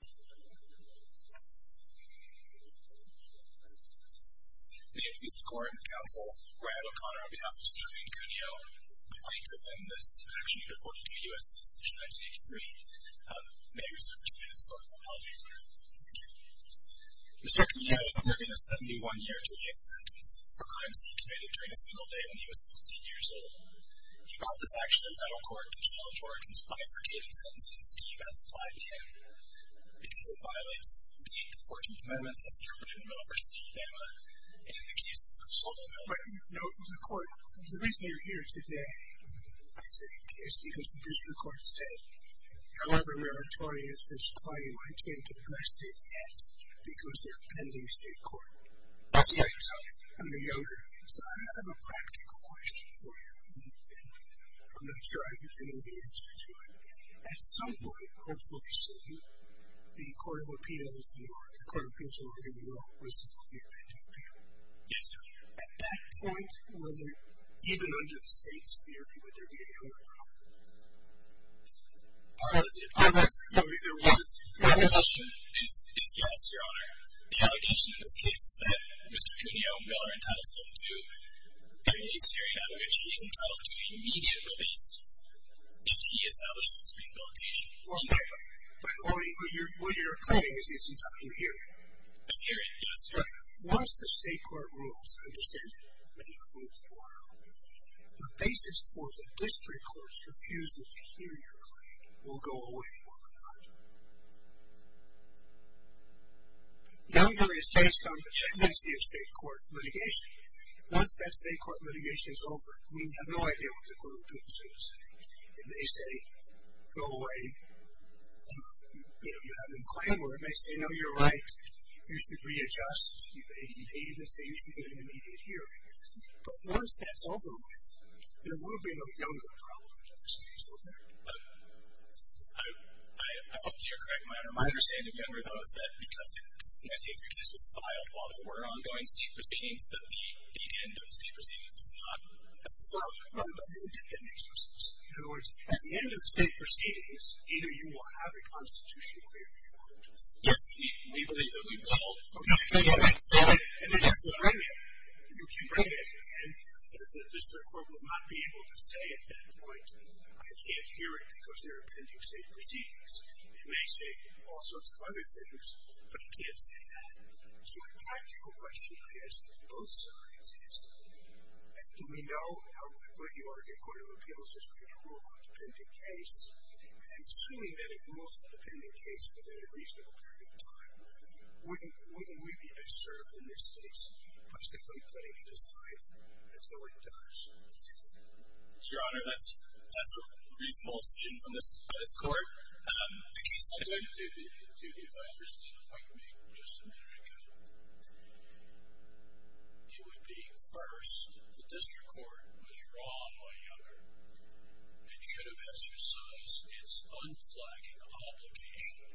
Mr. Cunio is serving a 71-year-to-life sentence for crimes that he committed during a single day when he was 16 years old. He brought this action in federal court to challenge Oregon's bifurcated sentencing scheme as applied here. Because of violence, the Eighth and Fourteenth Amendments, as interpreted in the Middle V. Alabama, and in the cases of Salt Lake County... Mr. Cunio No, Mr. Court. The reason you're here today, I think, is because the district court said, however meritorious this claim might be, it took less than an act because there are pending state court decisions on it. I'm no younger, so I have a practical question for you. And I'm not sure I know the answer to it. At some point, hopefully soon, the Court of Appeals in Oregon will resolve the pending appeal. Yes, sir. At that point, even under the state's theory, would there be any other problem? I'm asking if there was. My question is yes, Your Honor. The allegation in this case is that Mr. Cunio, Miller, and Titus look to getting these hearing amendments. He's entitled to immediate release if he establishes rehabilitation. Okay. But what you're claiming is he's entitled to a hearing. A hearing, yes. Right. Once the state court rules, understand it, when you move forward, the basis for the district court's refusal to hear your claim will go away, will it not? Now we know that it's based on the tendency of state court litigation. Once that state court litigation is over, we have no idea what the Court of Appeals is going to say. If they say, go away, you know, you have no claim, or if they say, no, you're right, you should readjust, you've aided and aided, they say you should get an immediate hearing. But once that's over with, there will be no younger problem in this case, will there? I hope you're correct, Your Honor. My understanding, Your Honor, though, is that because the CSA3 case was filed while there were ongoing state proceedings, that the end of state proceedings does not necessarily apply. But they do get an exercise. In other words, at the end of state proceedings, either you will have a constitutional claim or you won't. Yes. We believe that we will. Okay. I get it. I get it. And then you can bring it. You can bring it. And the district court will not be able to say at that point, I can't hear it because there are pending state proceedings. It may say all sorts of other things, but it can't say that. So my practical question, I guess, to both sides is, do we know how quickly the Oregon Court of Appeals is going to rule on a pending case? And assuming that it rules on a pending case within a reasonable period of time, wouldn't we be beserved in this case by simply putting it aside until it does? Your Honor, that's a reasonable obscene from this court. I'm going to do the opposite appointment just a minute ago. It would be, first, the district court was wrong, my younger. It should have exercised its unflagging obligation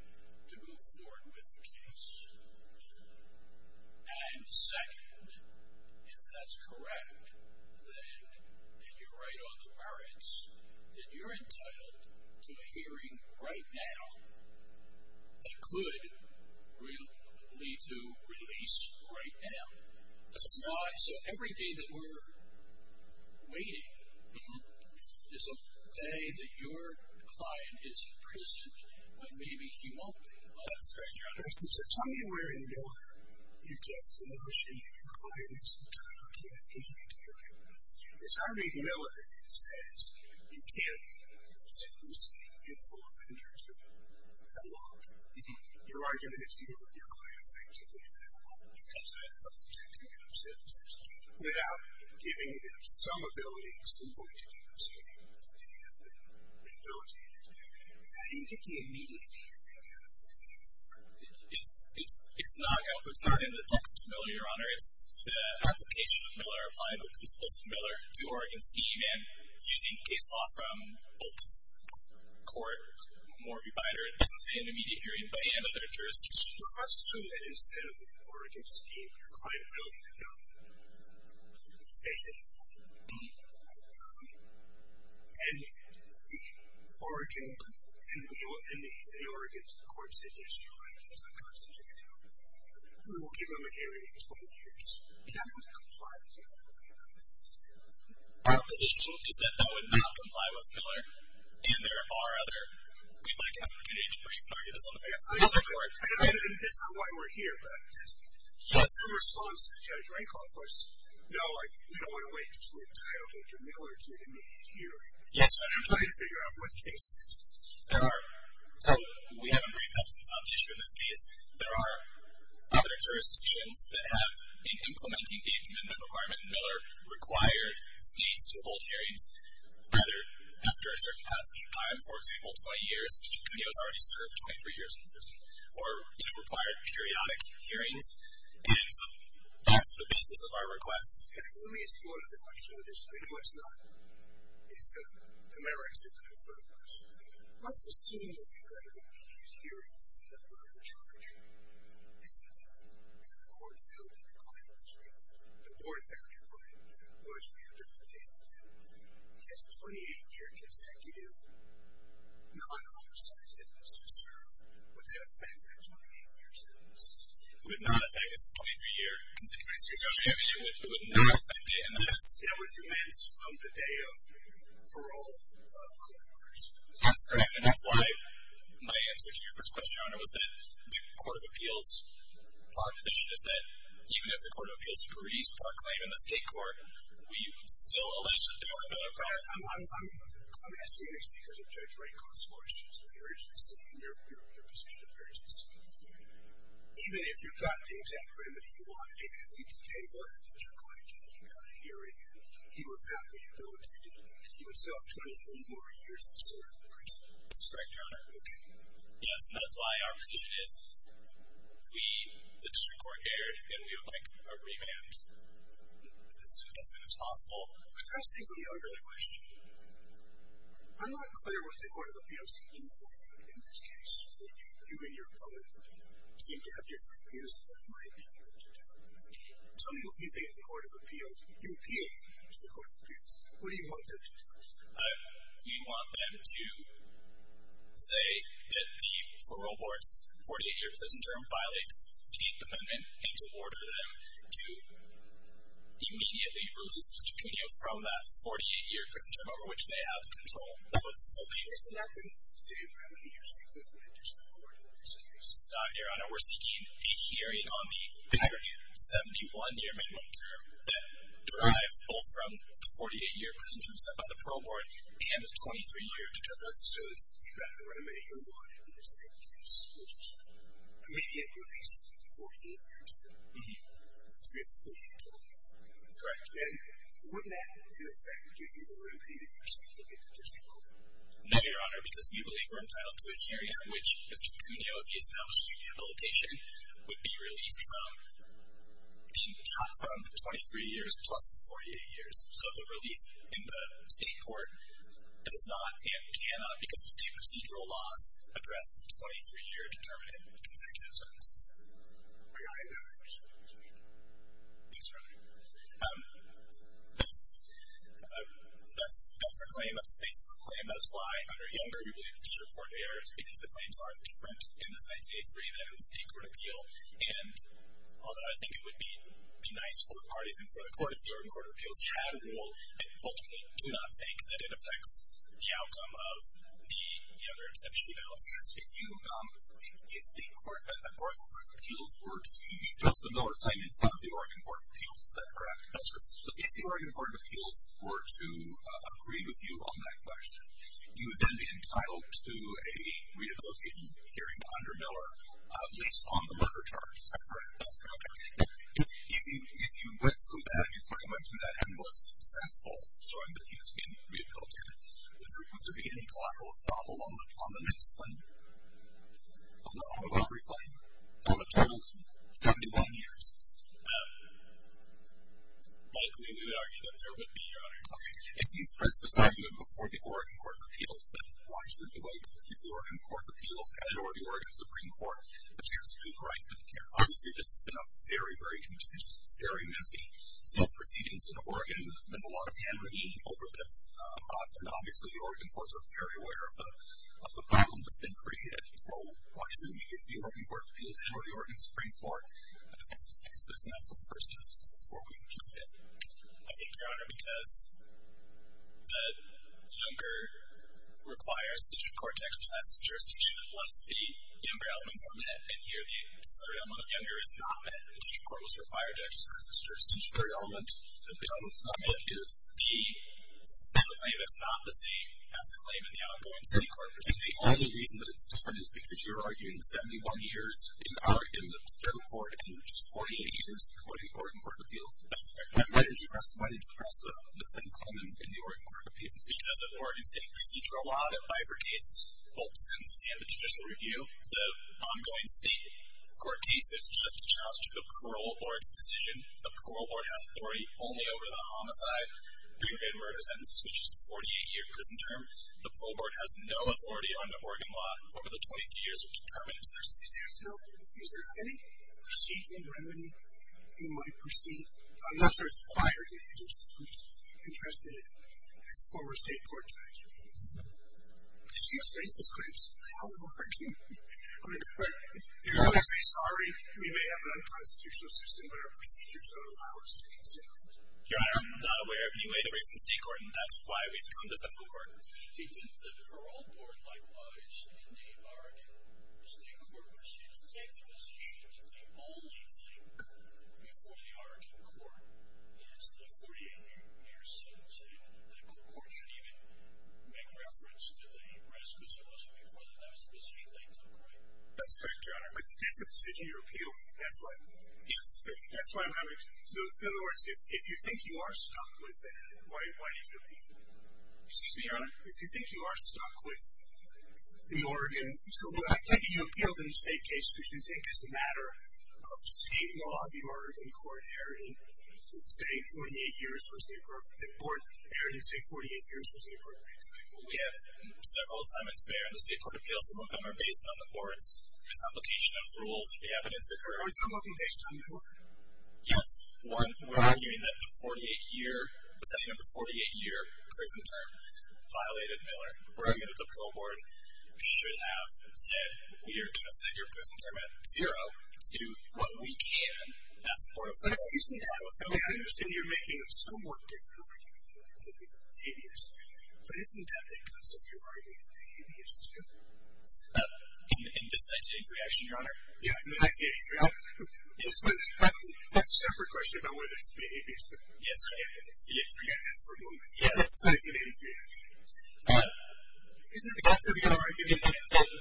to move forward with the case. And second, if that's correct, then you're right on the merits that you're entitled to appearing right now that could lead to release right now. That's not, so every day that we're waiting is a day that your client is imprisoned when maybe he won't be. That's correct, Your Honor. So tell me where in your, you get the notion that your client is entitled to an appeal that is full of injuries that have been held up. You're arguing that it's you and your client effectively that are going to be president of the two community services without giving them some ability to do what you're going to do. So you have been rehabilitated. How do you get the immediate meaning of that? It's not in the text of Miller, Your Honor. It's the application of Miller, applying the principles of Miller to Oregon's scheme and using case law from both this court, more of your binary, doesn't say an immediate hearing, but any other jurisdictions. Well, let's assume that instead of Oregon's scheme, your client will be the government. Facing the law. And the Oregon, and the Oregon's court said yes, you're right, it's unconstitutional. We will give them a hearing in 20 years. Yeah. Our position is that that would not comply with Miller. And there are other, we'd like to have an opportunity to briefly argue this on the basis of this court. And it's not why we're here, but in response to Judge Rankoff was, no, we don't want to wait until we're entitled to Miller to an immediate hearing. Yes, Your Honor. We're trying to figure out what cases. There are, we haven't briefed them since on tissue in this case. There are other jurisdictions that have, in implementing the amendment requirement, Miller required states to hold hearings, whether after a certain passage time, for example, 20 years. Mr. Cuneo's already served 23 years in prison. Or it required periodic hearings. And so, that's the basis of our request. Let me explore the question a little bit. I know it's not, it's a merit to confirm that. Let's assume that you're going to be hearing the murder charge. And that the court failed to decline it. The court failed to decline it. Or, as we understand it, his 28-year consecutive non-commercial sentence to serve, would that affect that 28-year sentence? It would not affect his 23-year consecutive sentence. It would not affect it. And that would commence on the day of parole. That's correct. And that's why my answer to your first question, Your Honor, was that the Court of Appeals' position is that, even if the Court of Appeals agrees with our claim in the state court, we still allege that there was a murder charge. I'm asking this because of Judge Raycon's lawyer's position. And your position of urgency. Even if you got the exact criminal you wanted, even if we today wanted Judge Raycon to keep on hearing, he would have the ability to do that. He would still have 23 more years to serve, of course. That's correct, Your Honor. Okay. Yes, and that is why our position is, we, the District Court here, and we would like a revamp as soon as possible. I was trying to say something earlier in the question. I'm not clear what the Court of Appeals can do for you in this case. You and your opponent seem to have different views Tell me what you think of the Court of Appeals. You appealed to the Court of Appeals. What do you want them to do? We want them to say that the parole board's 48-year prison term violates the 8th Amendment and to order them to immediately release Mr. Pino from that 48-year prison term over which they have control. That would still be the case. Isn't that the same remedy you're seeking from the District Court of Appeals? It's not, Your Honor. We're seeking a hearing on the aggregate 71-year minimum term that derives both from the 48-year prison term set by the parole board and the 23-year determined prison term. So it's exactly the remedy you wanted in this case, which is immediately release the 48-year term. Mm-hmm. Because we have the 48 total years. Correct. And wouldn't that, in effect, give you the remedy that you're seeking in the District Court? No, Your Honor, because we believe we're entitled to a hearing in which Mr. Pino, with the established rehabilitation, would be released from being cut from the 23 years plus the 48 years. So the relief in the state court does not and cannot, because of state procedural laws, address the 23-year determined consecutive sentences. Are you all right with that? Thanks, Your Honor. That's our claim. That's the basis of the claim. And that's why, under Younger, we believe the District Court may err, because the claims aren't different in this IJA3 than in the state court appeal. And although I think it would be nice for the parties and for the court, if the Oregon Court of Appeals had a rule, I ultimately do not think that it affects the outcome of the Younger exception analysis. If the Oregon Court of Appeals were to give you just another claim in front of the Oregon Court of Appeals, is that correct? That's correct. If the Oregon Court of Appeals were to agree with you on that question, you would then be entitled to a rehabilitation hearing under Miller, based on the murder charge. Is that correct? That's correct. If you went through that and you went through that and was successful showing that he has been rehabilitated, would there be any collateral assault on the next claim, on the robbery claim, on a total of 71 years? Likely. We would argue that there would be. Okay. If these threats decide to move before the Oregon Court of Appeals, then why shouldn't the way to give the Oregon Court of Appeals and or the Oregon Supreme Court the chance to do the right thing? Obviously, this has been a very, very contentious, very messy, self-proceedings in Oregon. There's been a lot of hand-wringing over this. And obviously, the Oregon courts are very aware of the problem that's been created. So why shouldn't we give the Oregon Court of Appeals and or the Oregon Supreme Court a chance to do the right thing? Because there's an absolute first instance before we can do it. I think, Your Honor, because the younger requires the district court to exercise its jurisdiction, unless the younger elements are met. And here, the third element of younger is not met. The district court was required to exercise its jurisdiction. The third element, the element that's not met, is the state of the claim that's not the same as the claim in the outgoing city court. And the only reason that it's different is because you're arguing 71 years in the federal court and just 48 years in the Oregon Court of Appeals. That's correct. And why didn't you press the same claim in the Oregon Court of Appeals? Because of Oregon State Procedural Law, that bifurcates both the sentences and the judicial review. The ongoing state court case is just a challenge to the parole board's decision. The parole board has authority only over the homicide, pre-ordered murder sentences, which is the 48-year prison term. The parole board has no authority under Oregon law over the 22 years of the prison term. Is there any procedural remedy in my proceeding? I'm not sure it's required. I'm just interested as a former state court judge. Did she express this claim? How am I arguing? If I were to say sorry, we may have an unconstitutional system, but our procedures don't allow us to consider it. Your Honor, I'm not aware of any way to reason state court, and that's why we've come to federal court. Did the parole board likewise in the Oregon state court proceed to take the position that the only thing before the Oregon court is the 48-year sentence? And the court should even make reference to the arrest, because it wasn't before that that was the decision they took, right? That's correct, Your Honor. But it's a decision you appeal. That's why. Yes. That's why I'm asking. In other words, if you think you are stuck with that, why did you appeal? Excuse me, Your Honor? If you think you are stuck with the Oregon, so why did you appeal the state case? Because you take this matter of state law, the Oregon court, saying 48 years was the appropriate time. We have several assignments there in the state court appeal. Some of them are based on the board's misapplication of rules. Are some of them based on the court? Yes. One, we're arguing that the setting of the 48-year prison term violated Miller. We're arguing that the parole board should have said, we are going to set your prison term at zero to do what we can. That's the board of parole. Excuse me, Your Honor, with Miller, I understand you're making a somewhat different argument than with Habeas. But isn't that because of your argument with Habeas, too? In this 1983 action, Your Honor? Yes, in 1983. That's a separate question about whether it should be Habeas. Yes. You didn't forget that for a moment. Yes. This is a 1983 action. Isn't it because of your argument that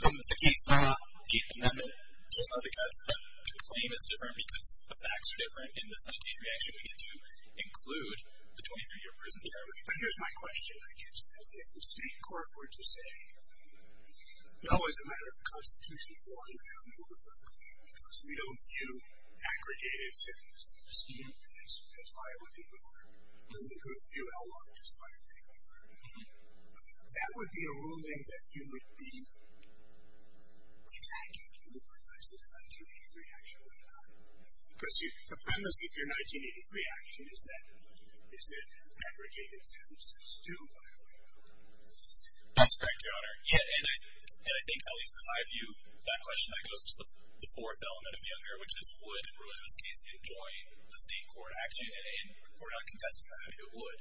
the case, the amendment, those are the cuts. But the claim is different because the facts are different. In this 1983 action, we get to include the 23-year prison term. But here's my question, I guess. If the state court were to say, no, as a matter of the Constitution, because we don't view aggregated sentences as violating the law, and we could view outlawed as violating the law, that would be a ruling that you would be attacking people for in this 1983 action, would it not? Because the premise of your 1983 action is that aggregated sentences do violate the law. That's correct, Your Honor. Yeah, and I think, at least as I view that question, that goes to the fourth element of Younger, which is would a ruling in this case enjoin the state court action? And we're not contesting that. It would.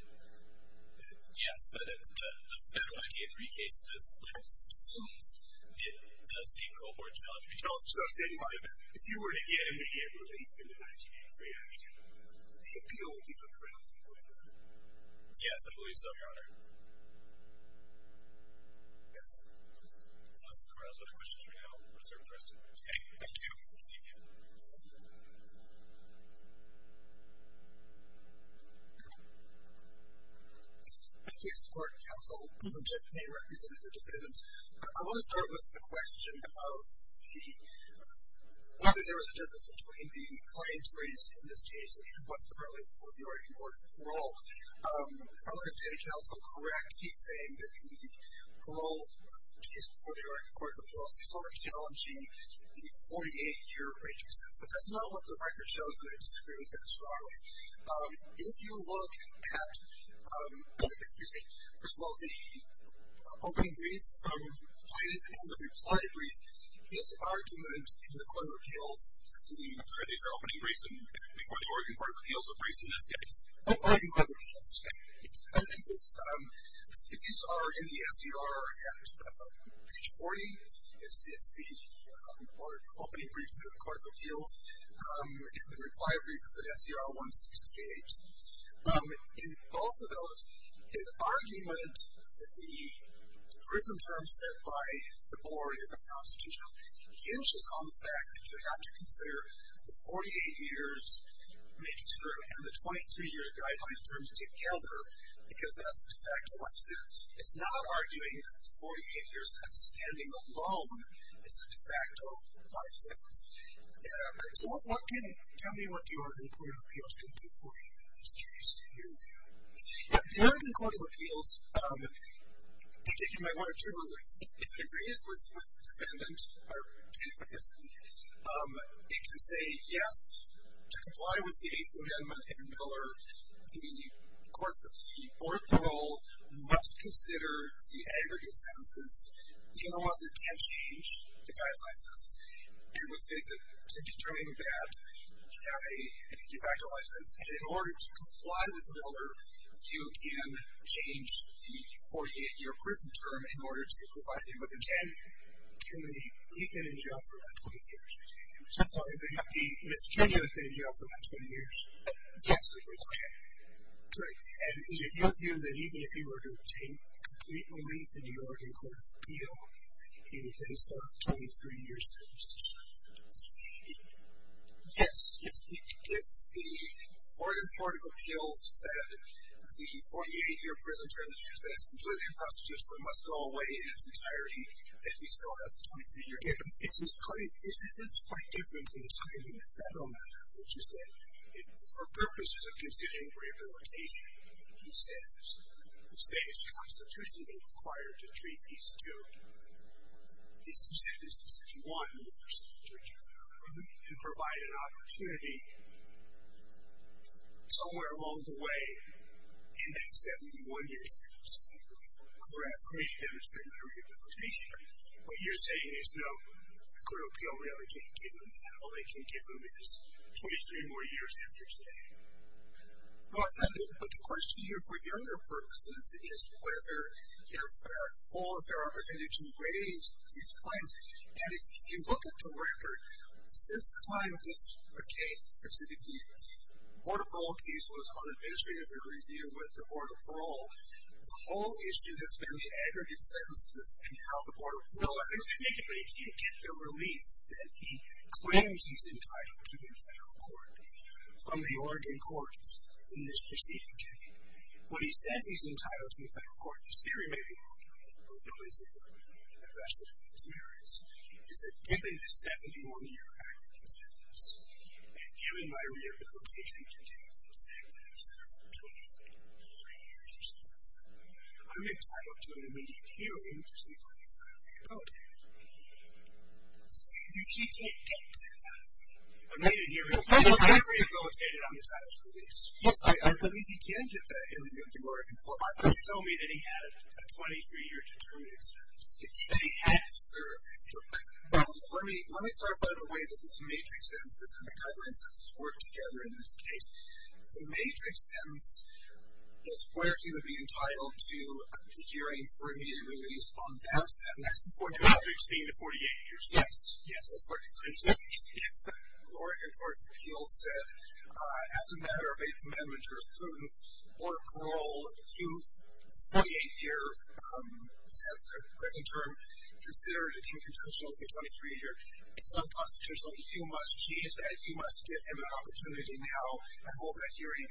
Yes, but in the federal 1983 case, this literally subsumes the same cohort challenge. You're telling me something like, if you were to get an immediate relief in the 1983 action, the appeal would be ungrounded, would it not? Yes, I believe so, Your Honor. Yes. Unless the Court has other questions right now, we'll reserve the rest of the meeting. Thank you. Thank you. Thank you, Mr. Court and Counsel. Jeff Payne representing the defendants. I want to start with the question of whether there was a difference between the claims raised in this case and what's currently before the Oregon Court of Parole. If I understand it, Counsel, correct, he's saying that in the parole case before the Oregon Court of Appeals, he's only challenging the 48-year age of sentence. But that's not what the record shows, and I disagree with that strongly. If you look at, excuse me, first of all, the opening brief from the plaintiff and the reply brief, his argument in the Court of Appeals, these are opening briefs before the Oregon Court of Appeals, and also briefs in this case. I think these are in the SER at page 40, is the opening brief to the Court of Appeals, and the reply brief is at SER 168. In both of those, his argument that the prism term set by the Board is unconstitutional hinges on the fact that you have to consider the 48 years matrix term and the 23-year guidelines terms together, because that's a de facto life sentence. It's not arguing that the 48 years have standing alone. It's a de facto life sentence. So what can, tell me what the Oregon Court of Appeals can do for you. It's curious to hear from you. The Oregon Court of Appeals, I think you might want to check on this, if it agrees with defendant, or plaintiff, I guess, it can say, yes, to comply with the Eighth Amendment in Miller, the Court of Appeals must consider the aggregate sentences. In other words, it can't change the guideline sentences. It would say that in determining that, you have a de facto life sentence, and in order to comply with Miller, you can change the 48-year prism term in order to provide him with a 10-year. He's been in jail for about 20 years. I'm sorry, Mr. Kenya has been in jail for about 20 years? Yes. Okay. Great. And is it your view that even if he were to obtain complete relief in the Oregon Court of Appeals, he would still have a 23-year sentence to serve? Yes. If the Oregon Court of Appeals said the 48-year prism term that you said is completely unconstitutional and must go away in its entirety, that he still has a 23-year sentence, isn't this quite different than describing the federal matter, which is that for purposes of considering rehabilitation, he says the state is constitutionally required to treat these two sentences as one, and provide an opportunity somewhere along the way in that 21-year sentence. Correct. For me to demonstrate my rehabilitation. What you're saying is, no, the Court of Appeals really can't give him that. All they can give him is 23 more years after today. Well, I think the question here for the other purposes is whether you have a fair opportunity to raise these claims. And if you look at the record, since the time of this case, the Board of Parole case was unadministrative in review with the Board of Parole. The whole issue has been the aggregate sentences and how the Board of Parole has been. No, I think particularly he can't get the relief that he claims he's entitled to in federal court from the Oregon Courts in this specific case. When he says he's entitled to in federal court, his theory may be wrong, but nobody's interested in those areas, is that given the 71-year aggregate sentence and given my rehabilitation continuing from the fact that I've served 23 years or something like that, I'm entitled to an immediate hearing to see whether I'm rehabilitated. He can't get that. I'm going to hear him. He's rehabilitated on his title of release. Yes, I believe he can get that in the Oregon Court. I thought you told me that he had a 23-year determined expense. That he had to serve. Let me clarify the way that these matrix sentences and the guideline sentences work together in this case. The matrix sentence is where he would be entitled to a hearing for immediate release on that sentence. That's the 48-year sentence being the 48-year sentence. Yes, that's what it is. If the Oregon Court of Appeals said, as a matter of Eighth Amendment jurisprudence or parole, if you 48-year sentence or present term considered it incontentional to get 23 years, it's unconstitutional. You must change that. You must give him an opportunity now to hold that hearing.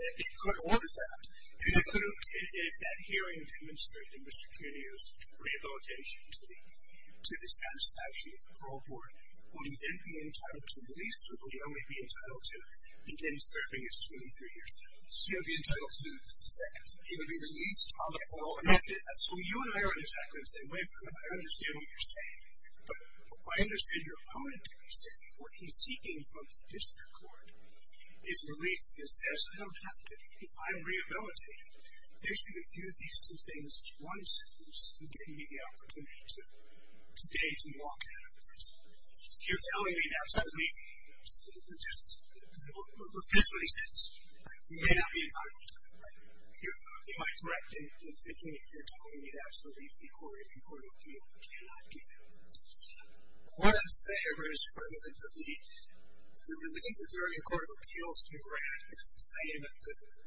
It could order that. If that hearing demonstrated Mr. Cuneo's rehabilitation to the satisfaction of the parole board, will you then be entitled to release or will you only be entitled to him then serving his 23 years? He would be entitled to the second. He would be released on the parole amendment. So you and I aren't exactly the same. I understand what you're saying. But I understood your opponent. What he's seeking from the district court is relief. He says, I don't have to. I'm rehabilitated. Basically, if you do these two things, one sentence, you're giving me the opportunity today to walk out of the prison. You're telling me that's a relief. That's what he says. He may not be entitled to that, right? Am I correct in thinking that you're telling me that's a relief the Oregon Court of Appeals cannot give him? What I'm saying is the relief that the Oregon Court of Appeals can grant is the same that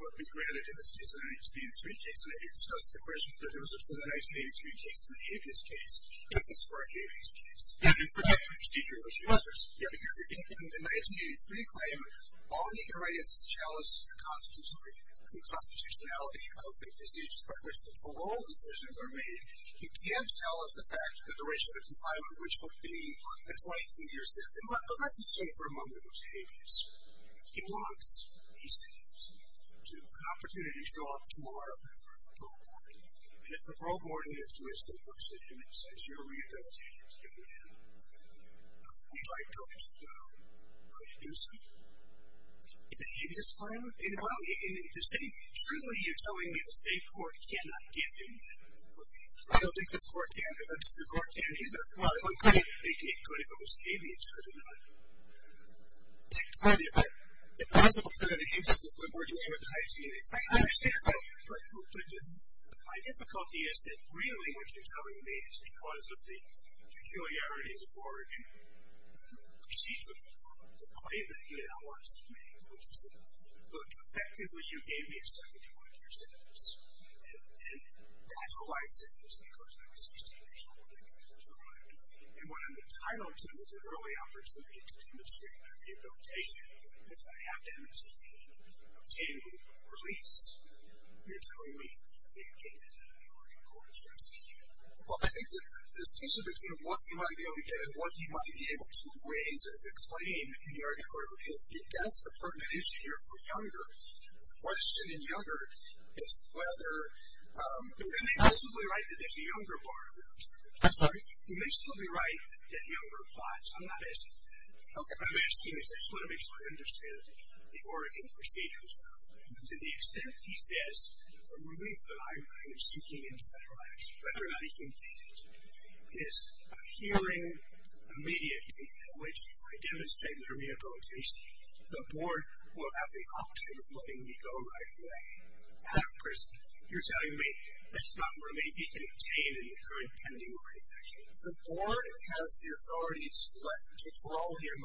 would be granted in this case in the 1983 case. And I think you discussed the question that there was a 1983 case in the habeas case. And that's for a habeas case. Yeah, because in the 1983 claim, all he could write is challenge the constitutionality of the procedures by which the parole decisions are made. He can't tell us the fact that the duration of the confinement, which would be a 23-year sentence. But let's assume for a moment it was a habeas. If he wants, he says, to have an opportunity to show up tomorrow for the parole board. And if the parole board is with the decision, it says you're rehabilitated as a young man, we'd like to let you go. Will you do so? In a habeas claim? In the same? Truly, you're telling me the state court cannot give him that relief? I don't think this court can. I don't think the court can either. Well, it would make me good if it was a habeas. Could it not? Yeah, clearly. But the possibility is that we're dealing with a habeas. I understand that. But my difficulty is that really what you're telling me is because of the peculiarities of Oregon procedure, the claim that he now wants to make, which is that, look, effectively, you gave me a 71-year sentence, and that's a life sentence because I was 16 years old when I committed the crime. And what I'm entitled to is an early opportunity to demonstrate my rehabilitation. But if I have to emigrate and obtain relief, you're telling me the same thing that the Oregon court is trying to do. Well, I think the distinction between what he might be able to get and what he might be able to raise as a claim in the Oregon Court of Appeals, that's the pertinent issue here for Younger. The question in Younger is whether he's absolutely right that there's a Younger bar there. I'm sorry? He may still be right that Younger applies. I'm not asking. Okay. What I'm asking is I just want to make sure I understand the Oregon procedure and stuff. To the extent he says a relief that I'm seeking in federal action, whether or not he can get it, is a hearing immediately in which, if I demonstrate my rehabilitation, the board will have the option of letting me go right away out of prison. You're telling me that's not relief he can obtain in the current pending Oregon action? The board has the authority to let, to parole him,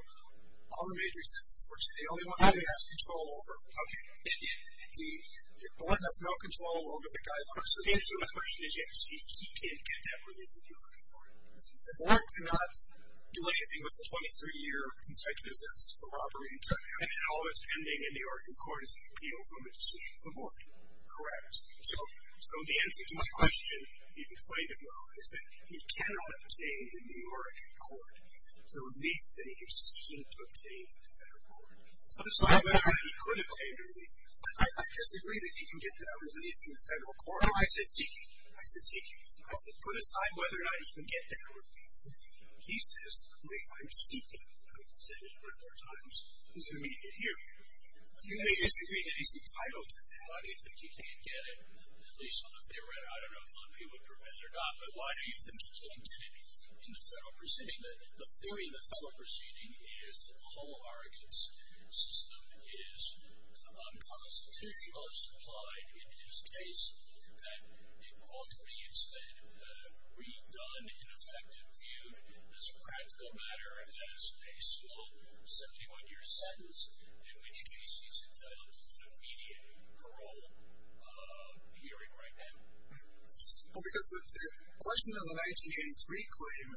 all the major sentences, which is the only one that he has control over. Okay. The board has no control over the guy personally. The answer to my question is yes, he can't get that relief in the Oregon court. The board cannot do anything with the 23-year consecutive sentences for robbery and drug trafficking. All that's pending in the Oregon court is the appeal from the board. Correct. So the answer to my question, you've explained it well, is that he cannot obtain in the Oregon court the relief that he is seeking to obtain in the federal court. So how about how he could obtain the relief? I disagree that he can get that relief in the federal court. No, I said seeking. I said seeking. I said put aside whether or not he can get that relief. He says, wait, I'm seeking. I've said it a number of times. Is there a way to get here? You may disagree that he's entitled to that. Why do you think he can't get it, at least on the theoretical? I don't know if he would prevent it or not, but why do you think he can't get it in the federal proceeding? The theory in the federal proceeding is that the whole Oregon system is unconstitutional, as implied in his case, that it ought to be instead redone, in effect, and viewed as a practical matter, as a small 71-year sentence, in which case he's entitled to immediate parole hearing right now. Because the question of the 1983 claim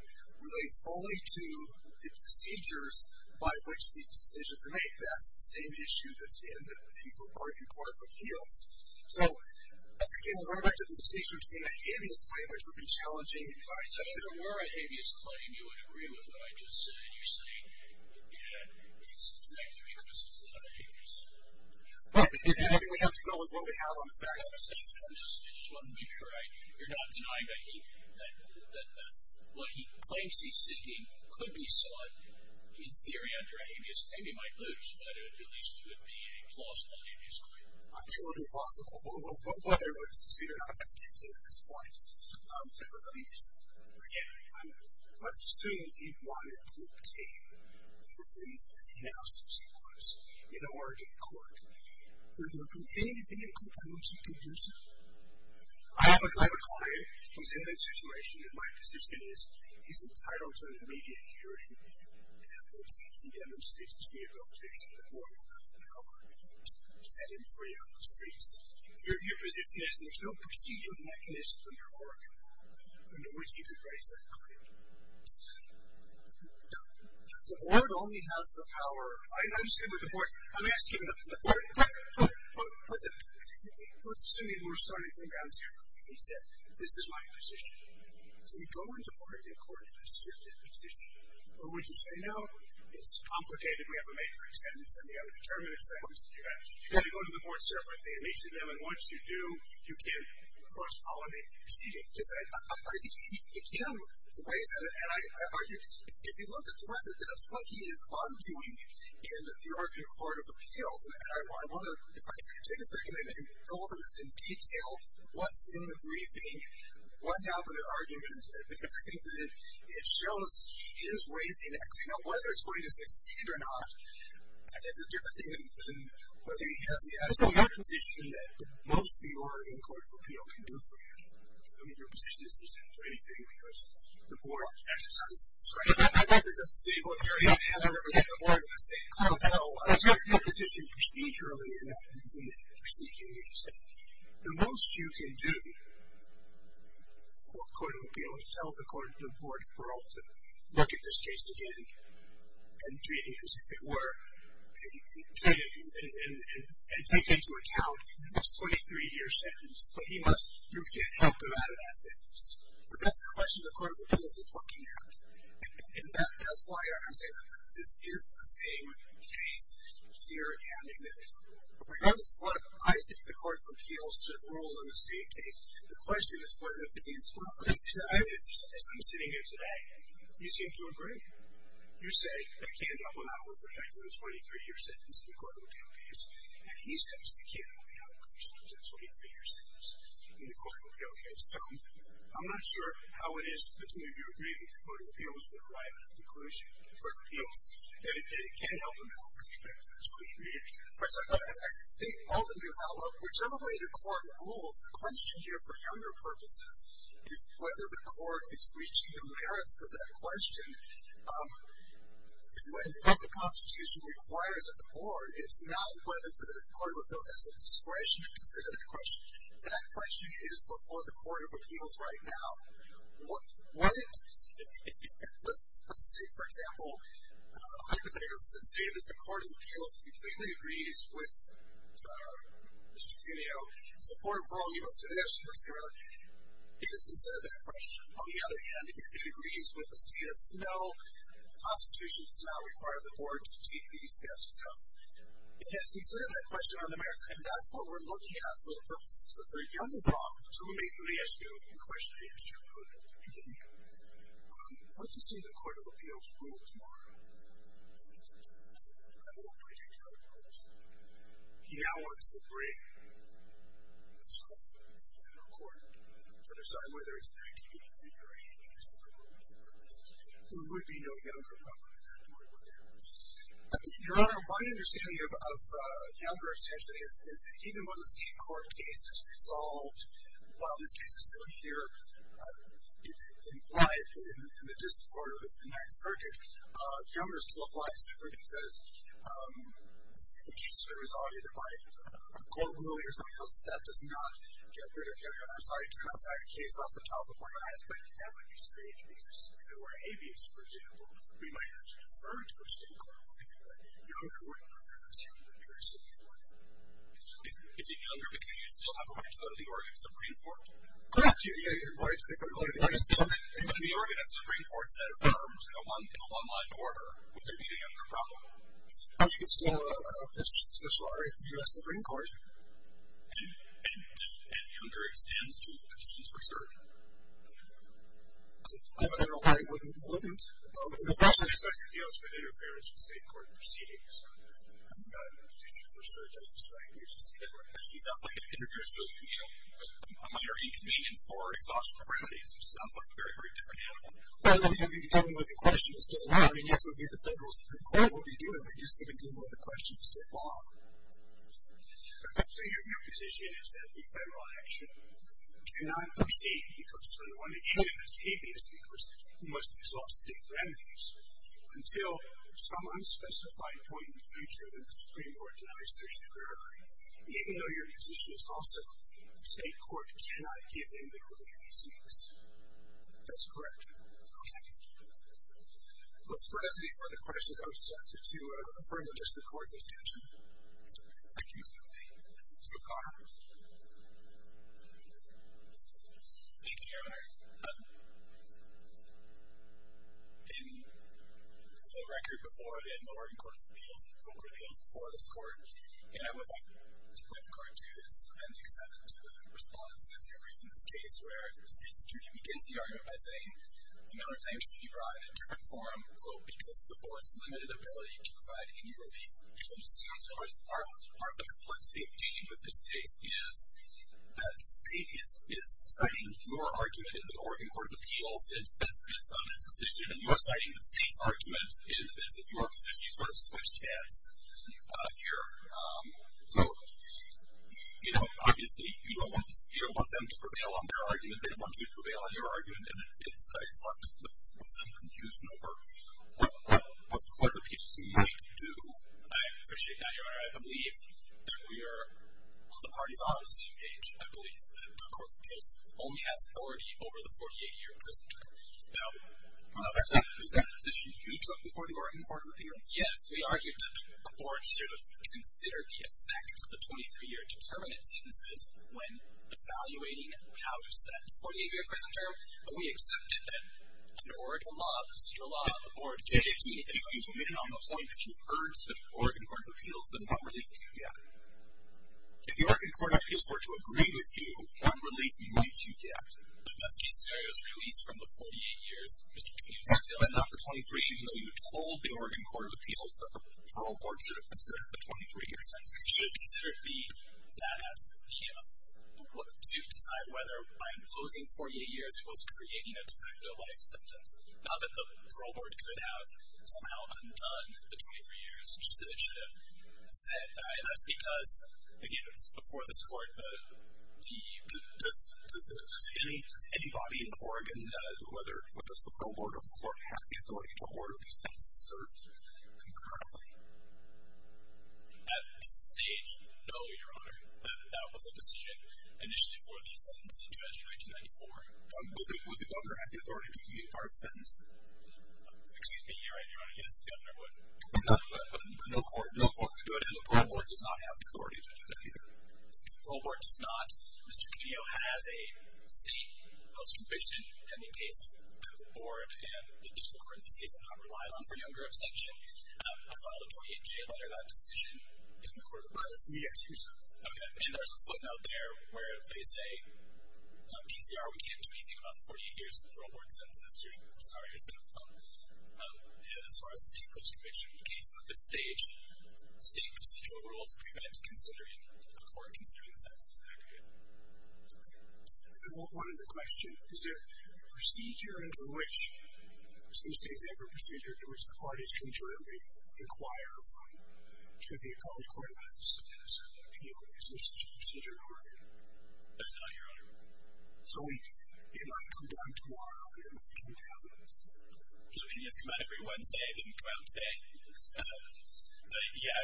relates only to the procedures by which these decisions are made. That's the same issue that's in the Oregon Court of Appeals. So, again, going back to the distinction between a habeas claim, which would be challenging. If there were a habeas claim, you would agree with what I just said. You're saying, again, it's negative because it's not a habeas. We have to go with what we have on the facts. I just wanted to make sure you're not denying that what he claims he's seeking could be sought in theory under a habeas claim. He might lose, but at least it would be a plausible habeas claim. It would be plausible. Whether it would succeed or not, I can't say at this point. But let me just, again, let's assume he wanted to obtain the relief that he now seeks in Oregon court. Would there be anything in court by which he could do so? I have a client who's in this situation, and my position is he's entitled to an immediate hearing, and that once he demonstrates his rehabilitation, the board will have the power to set him free on the streets. Your position is there's no procedural mechanism under Oregon law under which you could raise that client. The board only has the power. I'm asking the board. Let's assume we're starting from ground zero. He said, this is my position. Can you go into Oregon court and assert that position? Or would you say, no, it's complicated, we have a matrix sentence and the other determinants that you have. You've got to go to the board separately and each of them, and once you do, you can cross-pollinate the proceedings. He can raise that. And if you look at the record, that's what he is undoing in the Oregon Court of Appeals. And I want to, if I could take a second, and go over this in detail, what's in the briefing, what happened in argument, because I think that it shows he is raising that claim. Now, whether it's going to succeed or not is a different thing than whether he has the absolute position that most of the Oregon Court of Appeals can do for him. I mean, your position isn't presented to anything because the board exercises discretion. I represent the city of Oregon, and I represent the board in this case. So I represent your position procedurally, and that means in the proceedings. The most you can do for a court of appeals is tell the board to look at this case again and treat it as if it were, and take into account this 23-year sentence, but you can't help him out of that sentence. But that's the question the court of appeals is looking at. And that's why I'm saying that this is the same case here, and in that, regardless of what I think the court of appeals should rule in the state case, the question is whether these... I'm sitting here today, and you seem to agree. You say that Ken Doppelnau was affected with a 23-year sentence in the court of appeal case, and he says that Ken Doppelnau was affected with a 23-year sentence in the court of appeal case. So I'm not sure how it is that some of you agree that the court of appeals would arrive at a conclusion in the court of appeals that it can't help him out with respect to the 23 years. I think ultimately, whichever way the court rules, the question here for younger purposes is whether the court is reaching the merits of that question. When the Constitution requires a court, it's not whether the court of appeals has the discretion to consider that question. That question is before the court of appeals right now. Let's take, for example, hypotheticals that say that the court of appeals completely agrees with Mr. Cuneo. So the court of parole, he wants to do this, he wants to do that. It is considered that question. On the other hand, if it agrees with the status to know the Constitution does not require the board to take these steps itself, it has considered that question on the merits, and that's what we're looking at for the purposes of the younger law, So let me ask you a question, Mr. Cuneo. Once you see the court of appeals rules more, I won't break it to other courts, he now wants to bring himself to the federal court to decide whether it's an act to be considered or against the board of appeals purposes. So there would be no younger problem with that, nor would there be. Your Honor, my understanding of younger extension is that even when the state court case is resolved, while this case is still here, implied in the district court of the Ninth Circuit, younger still applies, simply because the case has been resolved either by a court ruling or something else, that does not get rid of younger. And I'm sorry to turn outside the case off the top of my head, but that would be strange because if it were habeas, for example, we might have to defer to a state court I believe that younger wouldn't interfere in this human interests of the employee. Is it younger because you still have a right to go to the Oregon Supreme Court? Correct, you're right, they can go to the Oregon Supreme Court. I just know that if they go to the Oregon Supreme Court instead of firearms in a one-line order, would there be a younger problem? You can still have a position of social honor at the U.S. Supreme Court. And younger extends to petitions for certain? I don't know why it wouldn't. The question is, does it deal with interference with state court proceedings? As you said, for sure, it doesn't strike me as a state court case. It sounds like it interferes with, you know, minor inconvenience or exhaustion of remedies, which sounds like a very, very different animal. Well, then you'd be dealing with a question still now. I mean, yes, it would be the federal Supreme Court would be dealing, but you'd still be dealing with a question still now. So your position is that the federal action cannot proceed because when one initiative is habeas because it must absolve state remedies until some unspecified point in the future when the Supreme Court denies social favor, even though your position is also state court cannot give him the relief he seeks? That's correct. Okay. Mr. President, any further questions? I would just ask you to affirm the district court's intention. Thank you, Mr. Kennedy. Mr. Conner. Thank you, Your Honor. In the record before, in the Oregon Court of Appeals, the federal court of appeals before this court, and I would like to point the court to this appendix seven to the response against your brief in this case, where the state's attorney begins the argument by saying, another claim should be brought in a different form, quote, because of the board's limited ability to provide any relief. Part of the complexity of dealing with this case is that the state is citing your argument in the Oregon Court of Appeals in defense of its own disposition, and you're citing the state's argument in defense of your position. You sort of switched heads here. So, you know, obviously you don't want them to prevail on their argument. They don't want you to prevail on your argument, and it's left us with some confusion over what the court of appeals might do. I appreciate that, Your Honor. I believe that we are, the parties are obviously engaged. I believe that the court of appeals only has authority over the 48-year prison term. Now, is that a position you took before the Oregon Court of Appeals? Yes, we argued that the court should have considered the effect of the 23-year determinant sentences when evaluating how to set the 48-year prison term, but we accepted that an Oregon law, a procedural law on the board, gave me the opinion on the point that you've heard that the Oregon Court of Appeals did not really do that. If the Oregon Court of Appeals were to agree with you, what relief might you get? The best case scenario is release from the 48 years, Mr. Kuhn. And not the 23 years, even though you told the Oregon Court of Appeals that the parole board should have considered the 23-year sentence. You should have considered the badass, you know, to decide whether by imposing 48 years, it was creating a de facto life sentence. Not that the parole board could have somehow undone the 23 years, just that it should have said badass, because, again, it's before this court, does anybody in Oregon, whether it's the parole board or the court, have the authority to order these sentences served concurrently? At this stage, no, Your Honor. That was a decision initially for the sentencing judge in 1994. Would the governor have the authority to do the entire sentence? Excuse me, Your Honor. Yes, the governor would. But no court could do it, and the parole board does not have the authority to do that either. The parole board does not. Mr. Kuhnio has a seat post-conviction in the case of the medical board and the district court in this case that I'm relying on for younger abstention. I filed a 28-J letter, that decision, in the Court of Appeals. Yes, you did. Okay, and there's a footnote there where they say, PCR, we can't do anything about the 48 years of the parole board sentences. I'm sorry, Your Honor. As far as the seat post-conviction case, at this stage, the state procedural rules prevent considering the court, considering the sentences, and that kind of thing. Okay. One other question. Is there a procedure under which, because most states have their procedure, in which the parties concurrently inquire to the appellate court about the sentence and the appeal. Is there such a procedure in Oregon? That's not here, Your Honor. So, it might come down tomorrow, or it might come down... Kuhnio's come out every Wednesday. I didn't come out today. But, yeah,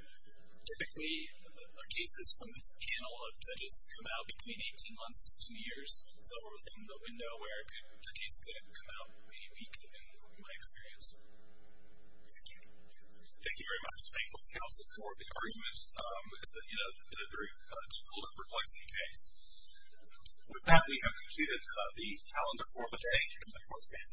typically, our cases from this panel of judges come out between 18 months to 10 years. So, we're within the window where the case could come out maybe a week, in my experience. Thank you. Thank you very much. Thank you, counsel, for the argument. It's been a very difficult and perplexing case. With that, we have concluded the calendar for the day and the court stands adjourned.